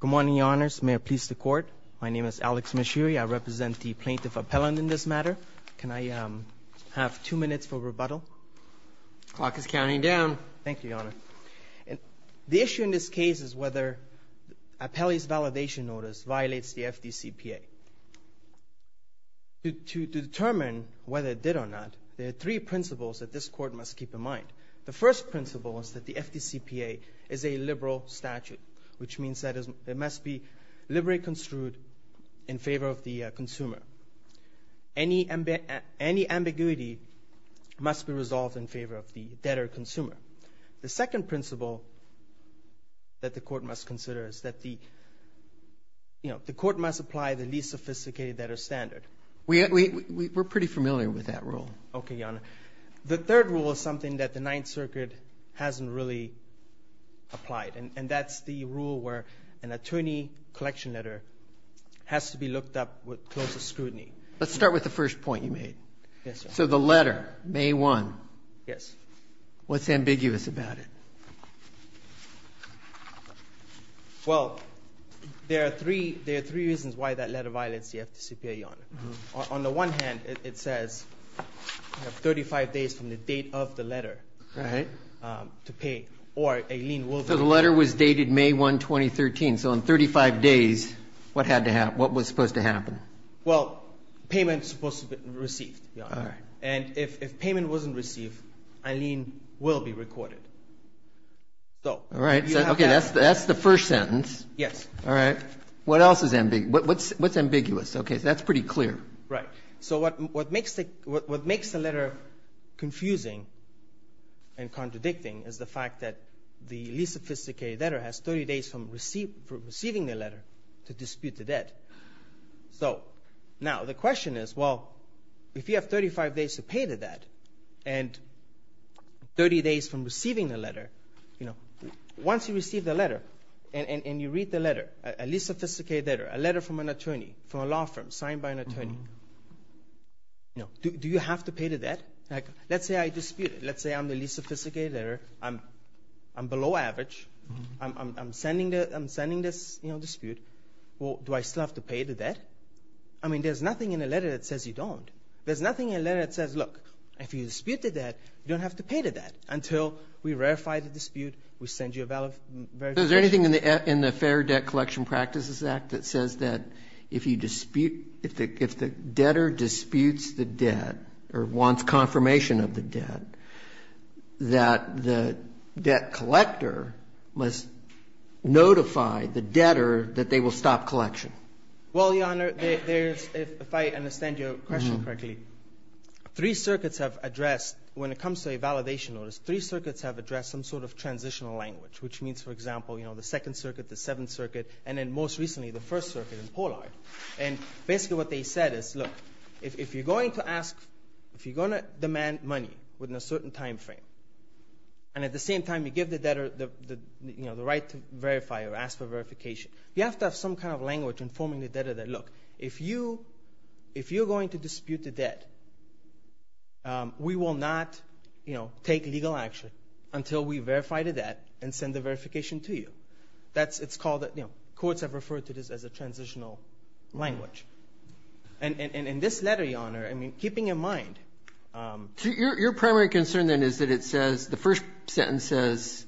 Good morning, Your Honours. May it please the Court. My name is Alex Mashiri. I represent the Plaintiff-Appellant in this matter. Can I have two minutes for rebuttal? The clock is counting down. Thank you, Your Honour. The issue in this case is whether Appellee's Validation Notice violates the FDCPA. To determine whether it did or not, there are three principles that this Court must keep in mind. The first principle is that the FDCPA is a liberal statute, which means that it must be liberally construed in favor of the consumer. Any ambiguity must be resolved in favor of the debtor-consumer. The second principle that the Court must consider is that the Court must apply the least sophisticated debtor standard. Okay, Your Honour. The third rule is something that the Ninth Circuit hasn't really applied, and that's the rule where an attorney collection letter has to be looked up with close scrutiny. Let's start with the first point you made. Yes, Your Honour. So the letter, May 1, what's ambiguous about it? Well, there are three reasons why that letter violates the FDCPA, Your Honour. On the one hand, it says you have 35 days from the date of the letter to pay, or a lien will be recorded. So the letter was dated May 1, 2013. So in 35 days, what was supposed to happen? Well, payment is supposed to be received, Your Honour. And if payment wasn't received, a lien will be recorded. All right. Okay, that's the first sentence. Yes. All right. What else is ambiguous? What's ambiguous? Okay, so that's pretty clear. Right. So what makes the letter confusing and contradicting is the fact that the least sophisticated letter has 30 days from receiving the letter to dispute the debt. So now the question is, well, if you have 35 days to pay the debt and 30 days from receiving the letter, you know, once you receive the letter and you read the letter, a least sophisticated letter, a letter from an attorney, from a law firm signed by an attorney, you know, do you have to pay the debt? Like, let's say I dispute it. Let's say I'm the least sophisticated letter. I'm below average. I'm sending this, you know, dispute. Well, do I still have to pay the debt? I mean, there's nothing in the letter that says you don't. There's nothing in the letter that says, look, if you dispute the debt, you don't have to pay the debt until we ratify the dispute, we send you a verification. So is there anything in the Fair Debt Collection Practices Act that says that if you dispute, if the debtor disputes the debt or wants confirmation of the debt, that the debt collector must notify the debtor that they will stop collection? Well, Your Honor, there's, if I understand your question correctly, three circuits have addressed, when it comes to a validation notice, three circuits have addressed some sort of transitional language, which means, for example, you know, the Second Circuit, the Seventh Circuit, and then most recently the First Circuit in Pollard. And basically what they said is, look, if you're going to ask, if you're going to demand money within a certain time frame, and at the same time you give the debtor the, you know, the right to verify or ask for verification, you have to have some kind of language informing the debtor that, look, if you're going to dispute the debt, we will not, you know, take legal action until we verify the debt and send the verification to you. That's, it's called, you know, courts have referred to this as a transitional language. And in this letter, Your Honor, I mean, keeping in mind. Your primary concern then is that it says, the first sentence says,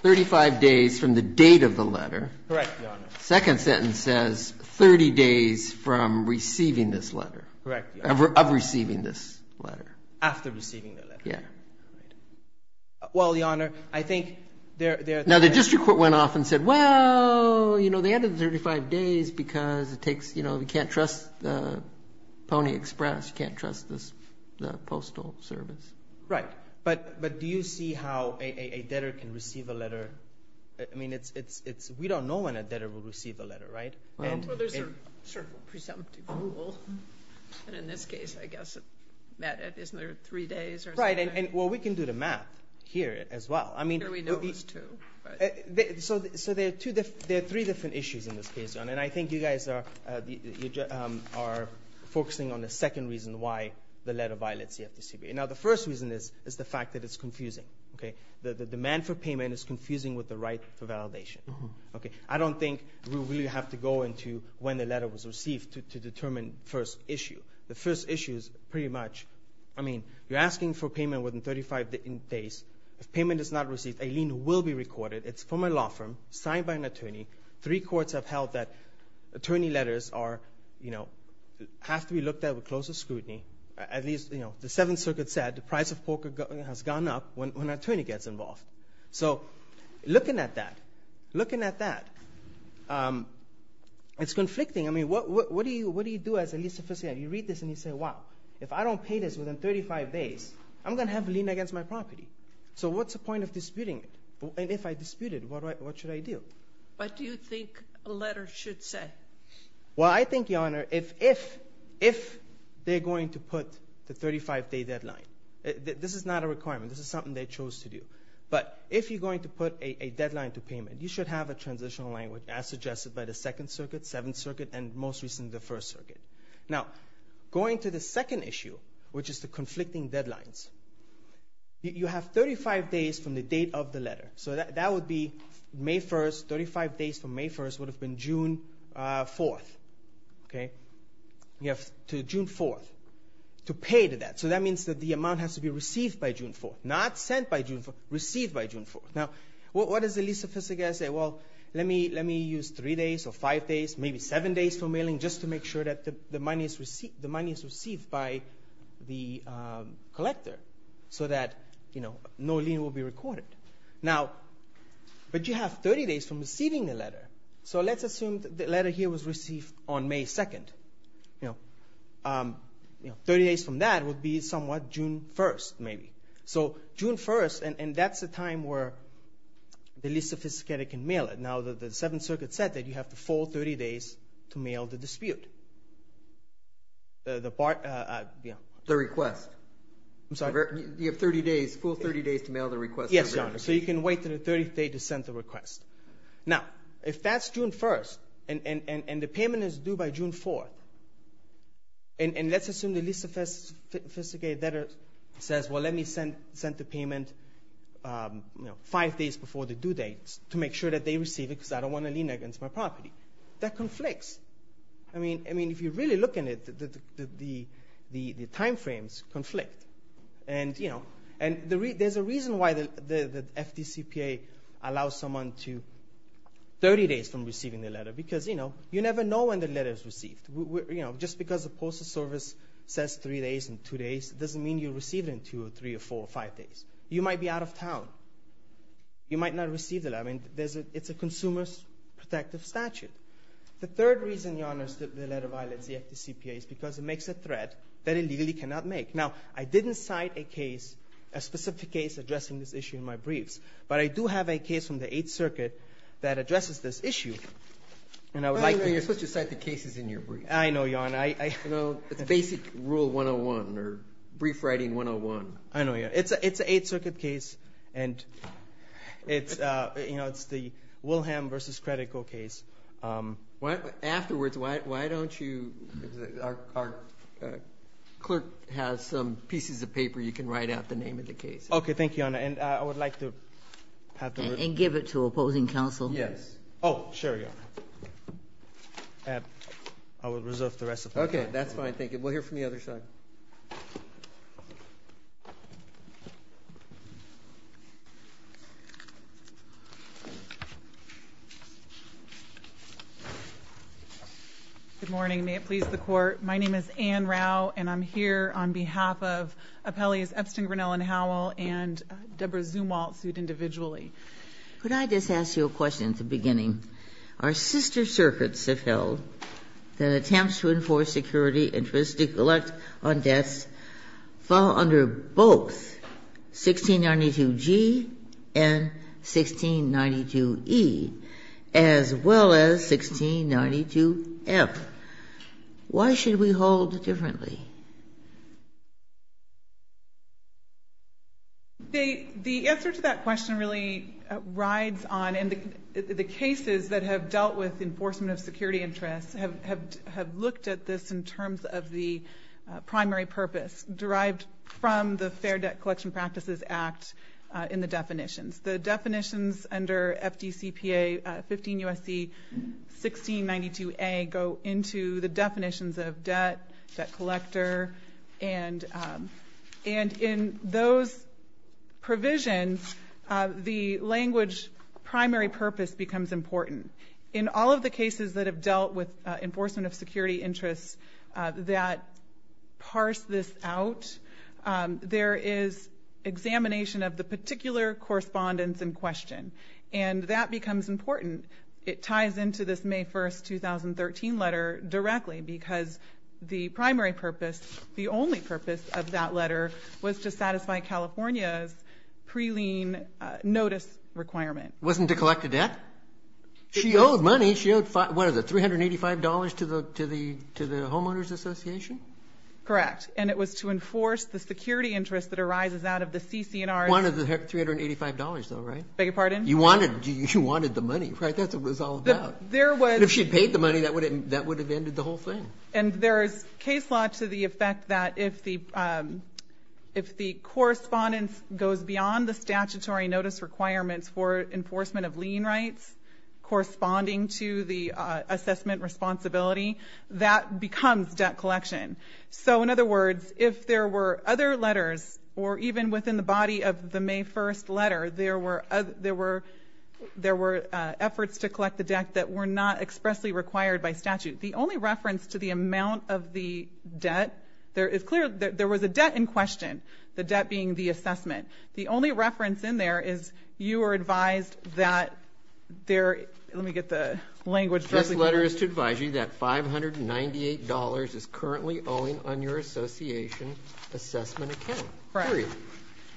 35 days from the date of the letter. Correct, Your Honor. Second sentence says, 30 days from receiving this letter. Correct, Your Honor. Of receiving this letter. After receiving the letter. Yeah. Well, Your Honor, I think they're. Now, the district court went off and said, well, you know, they added 35 days because it takes, you know, you can't trust the Pony Express, you can't trust the Postal Service. Right. But do you see how a debtor can receive a letter? I mean, it's, we don't know when a debtor will receive a letter, right? Well, there's a presumptive rule. And in this case, I guess, isn't there three days or something? Right. And, well, we can do the math here as well. I mean. We know there's two. So, there are three different issues in this case, Your Honor. And I think you guys are focusing on the second reason why the letter violates the FDCPA. Now, the first reason is the fact that it's confusing. Okay. The demand for payment is confusing with the right for validation. Okay. I don't think we really have to go into when the letter was received to determine the first issue. The first issue is pretty much, I mean, you're asking for payment within 35 days. If payment is not received, a lien will be recorded. It's from a law firm signed by an attorney. Three courts have held that attorney letters are, you know, have to be looked at with close scrutiny. At least, you know, the Seventh Circuit said the price of poker has gone up when an attorney gets involved. So, looking at that, looking at that, it's conflicting. I mean, what do you do as a lease officiant? You read this and you say, wow, if I don't pay this within 35 days, I'm going to have a lien against my property. So, what's the point of disputing it? And if I dispute it, what should I do? What do you think a letter should say? Well, I think, Your Honor, if they're going to put the 35-day deadline, this is not a requirement. This is something they chose to do. But if you're going to put a deadline to payment, you should have a transitional language as suggested by the Second Circuit, Seventh Circuit, and most recently the First Circuit. Now, going to the second issue, which is the conflicting deadlines, you have 35 days from the date of the letter. So, that would be May 1st, 35 days from May 1st would have been June 4th. You have to June 4th to pay to that. So, that means that the amount has to be received by June 4th, not sent by June 4th, received by June 4th. Now, what does the lease officiant say? Well, let me use three days or five days, maybe seven days for mailing, just to make sure that the money is received by the collector so that no lien will be recorded. Now, but you have 30 days from receiving the letter. So, let's assume the letter here was received on May 2nd. You know, 30 days from that would be somewhat June 1st, maybe. So, June 1st, and that's the time where the lease officiant can mail it. Now, the Seventh Circuit said that you have the full 30 days to mail the dispute. The part, yeah. The request. I'm sorry? You have 30 days, full 30 days to mail the request. Yes, Your Honor. So, you can wait until the 30th day to send the request. Now, if that's June 1st, and the payment is due by June 4th, and let's assume the lease officiant says, well, let me send the payment five days before the due date to make sure that they receive it because I don't want a lien against my property. That conflicts. I mean, if you really look at it, the time frames conflict. And, you know, there's a reason why the FDCPA allows someone 30 days from receiving the letter because, you know, you never know when the letter is received. You know, just because the Postal Service says three days and two days, it doesn't mean you'll receive it in two or three or four or five days. You might be out of town. You might not receive it. I mean, it's a consumer's protective statute. The third reason, Your Honor, that the letter violates the FDCPA is because it makes a threat that it legally cannot make. Now, I didn't cite a case, a specific case addressing this issue in my briefs, but I do have a case from the Eighth Circuit that addresses this issue. And I would like to know. You're supposed to cite the cases in your briefs. I know, Your Honor. You know, it's a basic rule 101 or brief writing 101. I know. It's an Eighth Circuit case, and it's, you know, it's the Wilhelm v. Credico case. Afterwards, why don't you? Our clerk has some pieces of paper you can write out the name of the case. Thank you, Your Honor. And I would like to have the written. And give it to opposing counsel. Yes. Oh, sure, Your Honor. I will reserve the rest of my time. Okay. That's fine. Thank you. We'll hear from the other side. Good morning. May it please the Court. My name is Anne Rau, and I'm here on behalf of appellees Epstein, Grinnell, and Howell, and Deborah Zumwalt, sued individually. Could I just ask you a question at the beginning? Our sister circuits have held that attempts to enforce security interests to collect on debts fall under both 1692-G and 1692-E, as well as 1692-F. Why should we hold differently? The answer to that question really rides on, and the cases that have dealt with enforcement of security interests have looked at this in terms of the primary purpose derived from the Fair Debt Collection Practices Act in the definitions. The definitions under FDCPA 15 U.S.C. 1692-A go into the definitions of debt, debt collector. And in those provisions, the language primary purpose becomes important. In all of the cases that have dealt with enforcement of security interests that parse this out, there is examination of the particular correspondence in question, and that becomes important. It ties into this May 1, 2013 letter directly because the primary purpose, the only purpose of that letter was to satisfy California's pre-lien notice requirement. It wasn't to collect a debt? She owed money. She owed, what is it, $385 to the Homeowners Association? Correct, and it was to enforce the security interest that arises out of the CC&Rs. One of the $385, though, right? Beg your pardon? You wanted the money, right? That's what it was all about. If she had paid the money, that would have ended the whole thing. And there is case law to the effect that if the correspondence goes beyond the statutory notice requirements for enforcement of lien rights corresponding to the assessment responsibility, that becomes debt collection. So, in other words, if there were other letters, or even within the body of the May 1 letter, there were efforts to collect the debt that were not expressly required by statute. The only reference to the amount of the debt, it's clear that there was a debt in question, the debt being the assessment. The only reference in there is you were advised that there, let me get the language. This letter is to advise you that $598 is currently owing on your association assessment account. Period.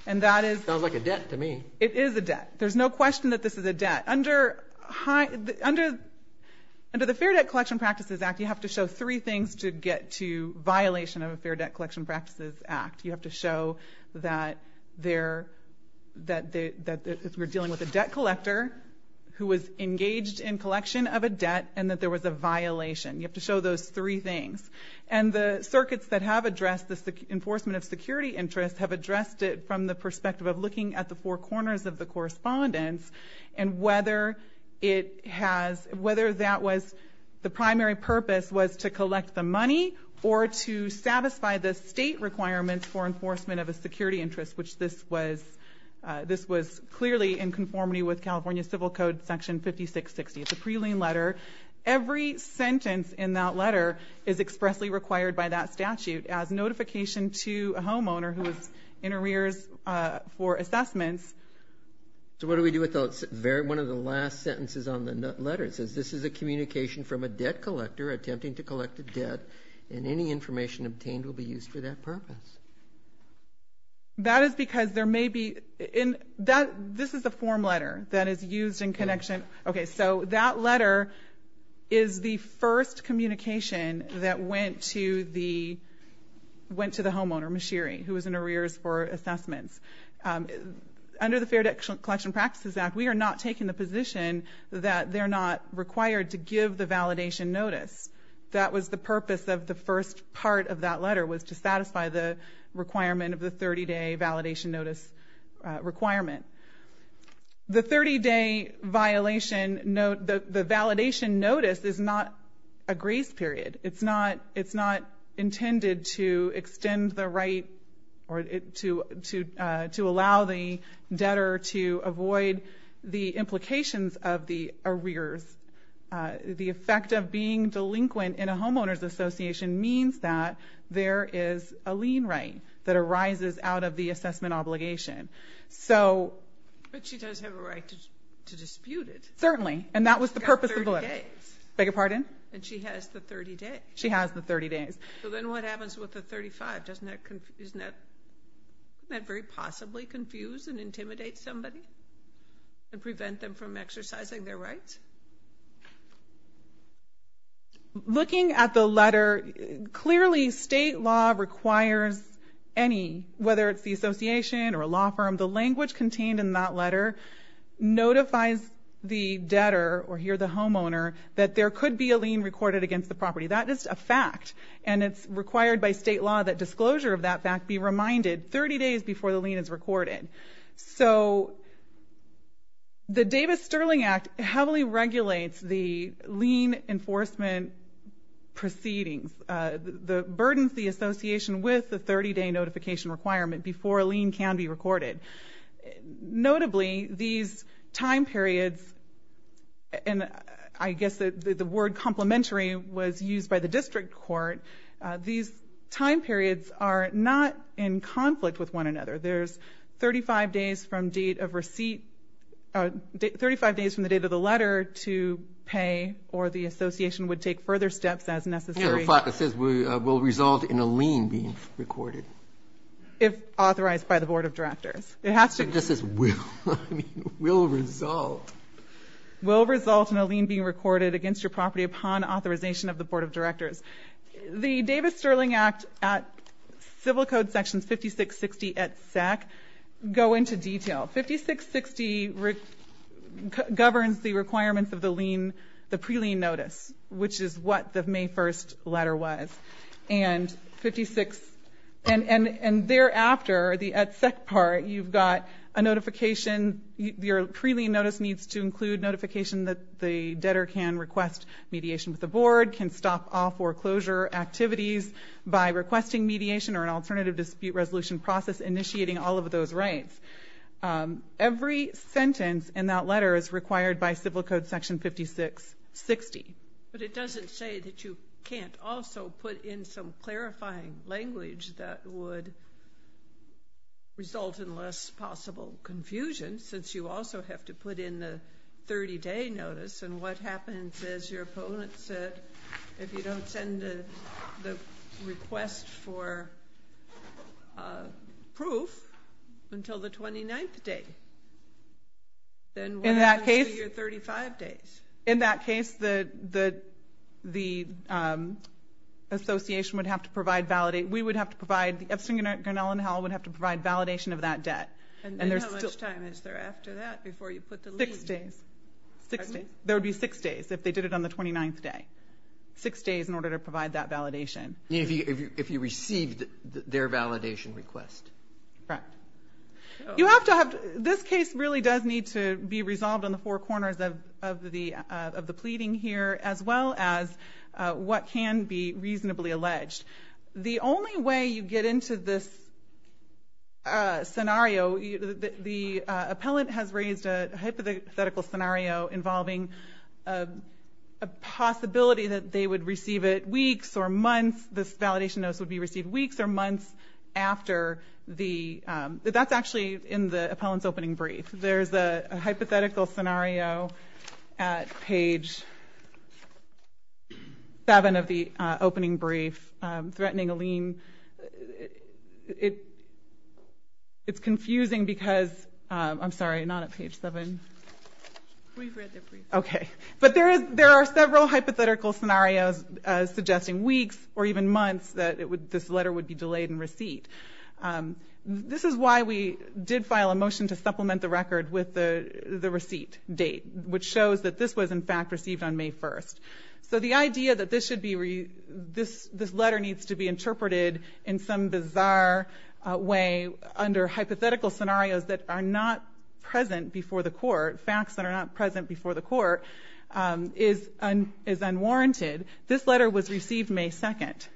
And that is. Sounds like a debt to me. It is a debt. There's no question that this is a debt. Under the Fair Debt Collection Practices Act, you have to show three things to get to violation of a Fair Debt Collection Practices Act. You have to show that they're, that we're dealing with a debt collector who was engaged in collection of a debt and that there was a violation. You have to show those three things. And the circuits that have addressed the enforcement of security interests have addressed it from the perspective of looking at the four corners of the correspondence and whether it has, whether that was the primary purpose was to collect the money or to satisfy the state requirements for enforcement of a security interest, which this was clearly in conformity with California Civil Code Section 5660. It's a pre-lien letter. Every sentence in that letter is expressly required by that statute as notification to a homeowner who is in arrears for assessments. So what do we do with one of the last sentences on the letter? It says, this is a communication from a debt collector attempting to collect a debt, and any information obtained will be used for that purpose. That is because there may be, this is a form letter that is used in connection. Okay, so that letter is the first communication that went to the homeowner, Mashiri, who was in arrears for assessments. Under the Fair Debt Collection Practices Act, we are not taking the position that they're not required to give the validation notice. That was the purpose of the first part of that letter, was to satisfy the requirement of the 30-day validation notice requirement. The 30-day violation, the validation notice is not a grace period. It's not intended to extend the right or to allow the debtor to avoid the implications of the arrears. The effect of being delinquent in a homeowner's association means that there is a lien right that arises out of the assessment obligation. But she does have a right to dispute it. Certainly, and that was the purpose of the letter. She's got 30 days. She has the 30 days. So then what happens with the 35? Doesn't that very possibly confuse and intimidate somebody and prevent them from exercising their rights? Looking at the letter, clearly state law requires any, whether it's the association or a law firm, the language contained in that letter notifies the debtor, or here the homeowner, that there could be a lien recorded against the property. That is a fact, and it's required by state law that disclosure of that fact be reminded 30 days before the lien is recorded. So the Davis-Sterling Act heavily regulates the lien enforcement proceedings, burdens the association with the 30-day notification requirement before a lien can be recorded. Notably, these time periods, and I guess the word complementary was used by the district court, these time periods are not in conflict with one another. There's 35 days from date of receipt, 35 days from the date of the letter to pay, or the association would take further steps as necessary. It says will result in a lien being recorded. If authorized by the Board of Directors. It has to. It just says will. I mean, will result. Will result in a lien being recorded against your property upon authorization of the Board of Directors. The Davis-Sterling Act at Civil Code sections 5660 at SEC go into detail. 5660 governs the requirements of the lien, the pre-lien notice, which is what the May 1st letter was. And 56, and thereafter, at SEC part, you've got a notification. Your pre-lien notice needs to include notification that the debtor can request mediation with the Board, can stop off or closure activities by requesting mediation or an alternative dispute resolution process initiating all of those rights. Every sentence in that letter is required by Civil Code section 5660. But it doesn't say that you can't also put in some clarifying language that would result in less possible confusion since you also have to put in the 30-day notice. And what happens is your opponent said if you don't send the request for proof until the 29th day, then what happens to your 35 days? In that case, the association would have to provide validation. We would have to provide, Epstein, Grinnell, and Howell would have to provide validation of that debt. And how much time is there after that before you put the lien? Six days. There would be six days if they did it on the 29th day. Six days in order to provide that validation. If you received their validation request. Correct. This case really does need to be resolved on the four corners of the pleading here, as well as what can be reasonably alleged. The only way you get into this scenario, the appellant has raised a hypothetical scenario involving a possibility that they would receive it weeks or months, this validation notice would be received weeks or months after the, that's actually in the appellant's opening brief. There's a hypothetical scenario at page 7 of the opening brief threatening a lien. It's confusing because, I'm sorry, not at page 7. We've read the brief. Okay. But there are several hypothetical scenarios suggesting weeks or even months that this letter would be delayed in receipt. This is why we did file a motion to supplement the record with the receipt date, which shows that this was, in fact, received on May 1st. So the idea that this letter needs to be interpreted in some bizarre way under hypothetical scenarios that are not present before the court, is unwarranted. This letter was received May 2nd.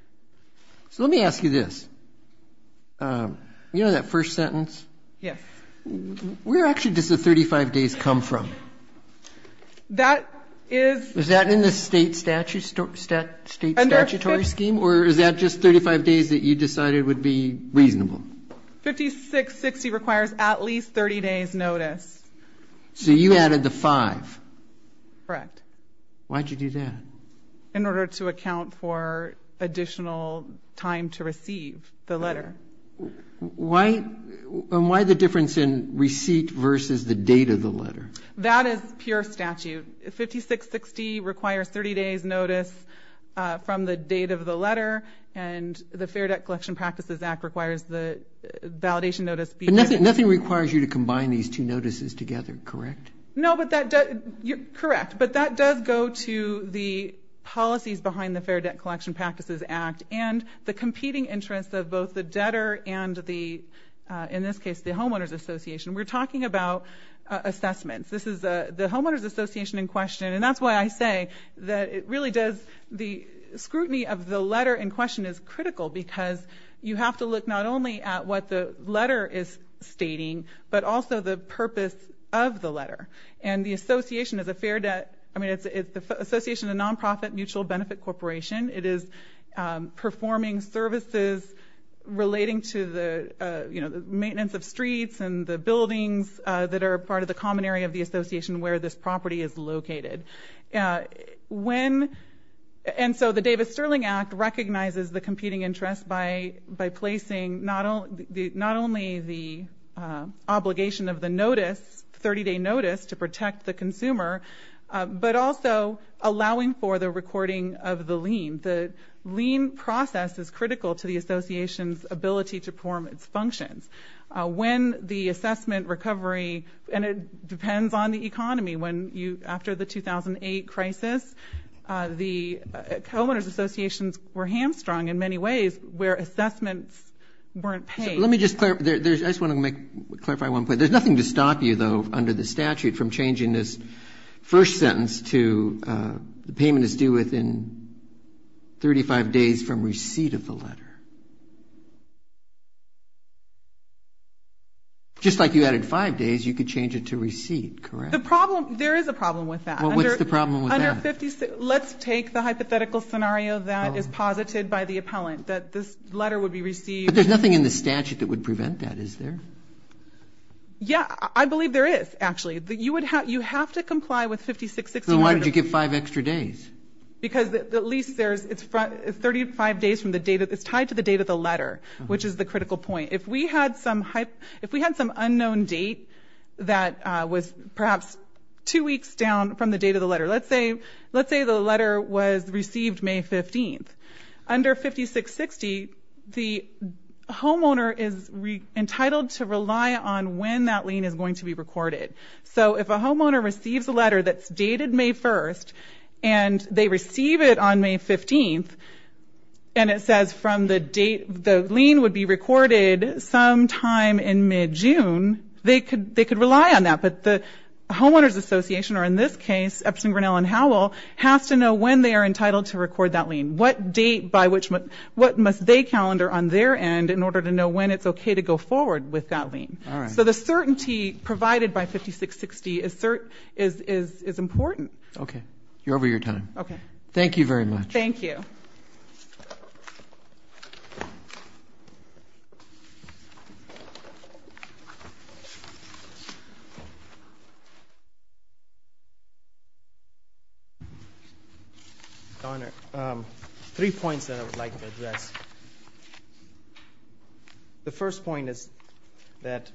So let me ask you this. You know that first sentence? Yes. Where actually does the 35 days come from? That is. Is that in the state statutory scheme, or is that just 35 days that you decided would be reasonable? 5660 requires at least 30 days notice. So you added the five. Correct. Why did you do that? In order to account for additional time to receive the letter. And why the difference in receipt versus the date of the letter? That is pure statute. 5660 requires 30 days notice from the date of the letter, But nothing requires you to combine these two notices together, correct? No, but that does go to the policies behind the Fair Debt Collection Practices Act and the competing interests of both the debtor and the, in this case, the Homeowners Association. We're talking about assessments. This is the Homeowners Association in question, and that's why I say that it really does, the scrutiny of the letter in question is critical because you have to look not only at what the letter is stating, but also the purpose of the letter. And the association is a fair debt, I mean it's the Association of Nonprofit Mutual Benefit Corporation. It is performing services relating to the maintenance of streets and the buildings that are part of the common area of the association where this property is located. And so the Davis-Sterling Act recognizes the competing interest by placing not only the obligation of the notice, 30-day notice, to protect the consumer, but also allowing for the recording of the lien. The lien process is critical to the association's ability to perform its functions. When the assessment recovery, and it depends on the economy, when you, after the 2008 crisis, the Homeowners Associations were hamstrung in many ways where assessments weren't paid. Let me just clarify, I just want to clarify one point. There's nothing to stop you, though, under the statute, from changing this first sentence to the payment is due within 35 days from receipt of the letter. Just like you added five days, you could change it to receipt, correct? There is a problem with that. Well, what's the problem with that? Let's take the hypothetical scenario that is posited by the appellant, that this letter would be received. But there's nothing in the statute that would prevent that, is there? Yeah, I believe there is, actually. You have to comply with 56-69. Then why did you give five extra days? Because at least it's tied to the date of the letter, which is the critical point. If we had some unknown date that was perhaps two weeks down from the date of the letter, let's say the letter was received May 15th. Under 56-60, the homeowner is entitled to rely on when that lien is going to be recorded. So if a homeowner receives a letter that's dated May 1st, and they receive it on May 15th, and it says from the date the lien would be recorded sometime in mid-June, they could rely on that. But the homeowners association, or in this case Epson, Grinnell, and Howell, has to know when they are entitled to record that lien. What date by which they calendar on their end in order to know when it's okay to go forward with that lien. All right. So the certainty provided by 56-60 is important. Okay. You're over your time. Okay. Thank you very much. Thank you. Your Honor, three points that I would like to address. The first point is that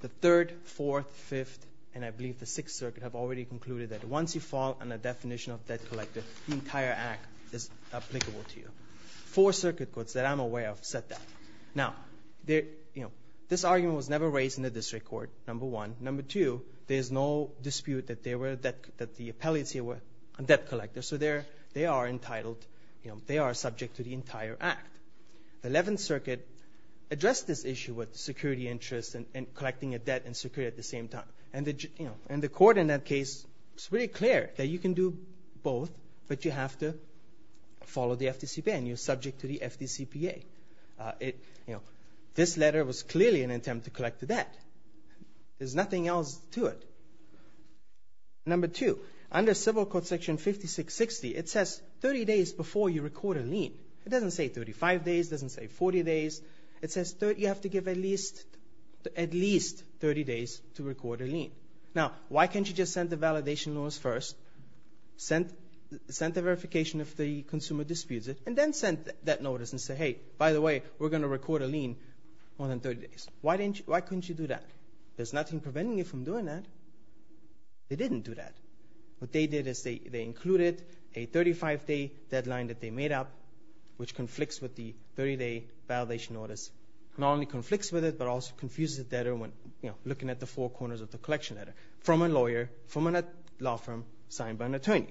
the Third, Fourth, Fifth, and I believe the Sixth Circuit have already concluded that once you fall on a definition of debt collector, the entire act is applicable to you. Four circuit courts that I'm aware of said that. Now, this argument was never raised in the district court, number one. Number two, there is no dispute that the appellates here were debt collectors, so they are entitled, they are subject to the entire act. The Eleventh Circuit addressed this issue with security interests and collecting a debt and security at the same time. And the court in that case, it's really clear that you can do both, but you have to follow the FDCPA and you're subject to the FDCPA. This letter was clearly an attempt to collect the debt. There's nothing else to it. Number two, under civil court section 56-60, it says 30 days before you record a lien. It doesn't say 35 days. It doesn't say 40 days. It says you have to give at least 30 days to record a lien. Now, why can't you just send the validation notice first, send the verification if the consumer disputes it, and then send that notice and say, hey, by the way, we're going to record a lien more than 30 days. Why couldn't you do that? There's nothing preventing you from doing that. They didn't do that. What they did is they included a 35-day deadline that they made up, which conflicts with the 30-day validation notice. Not only conflicts with it, but also confuses the debtor when, you know, looking at the four corners of the collection letter from a lawyer, from a law firm signed by an attorney,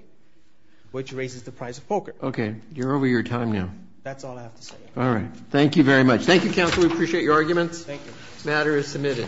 which raises the price of poker. Okay. You're over your time now. That's all I have to say. All right. Thank you very much. Thank you, counsel. We appreciate your arguments. Thank you. The matter is submitted.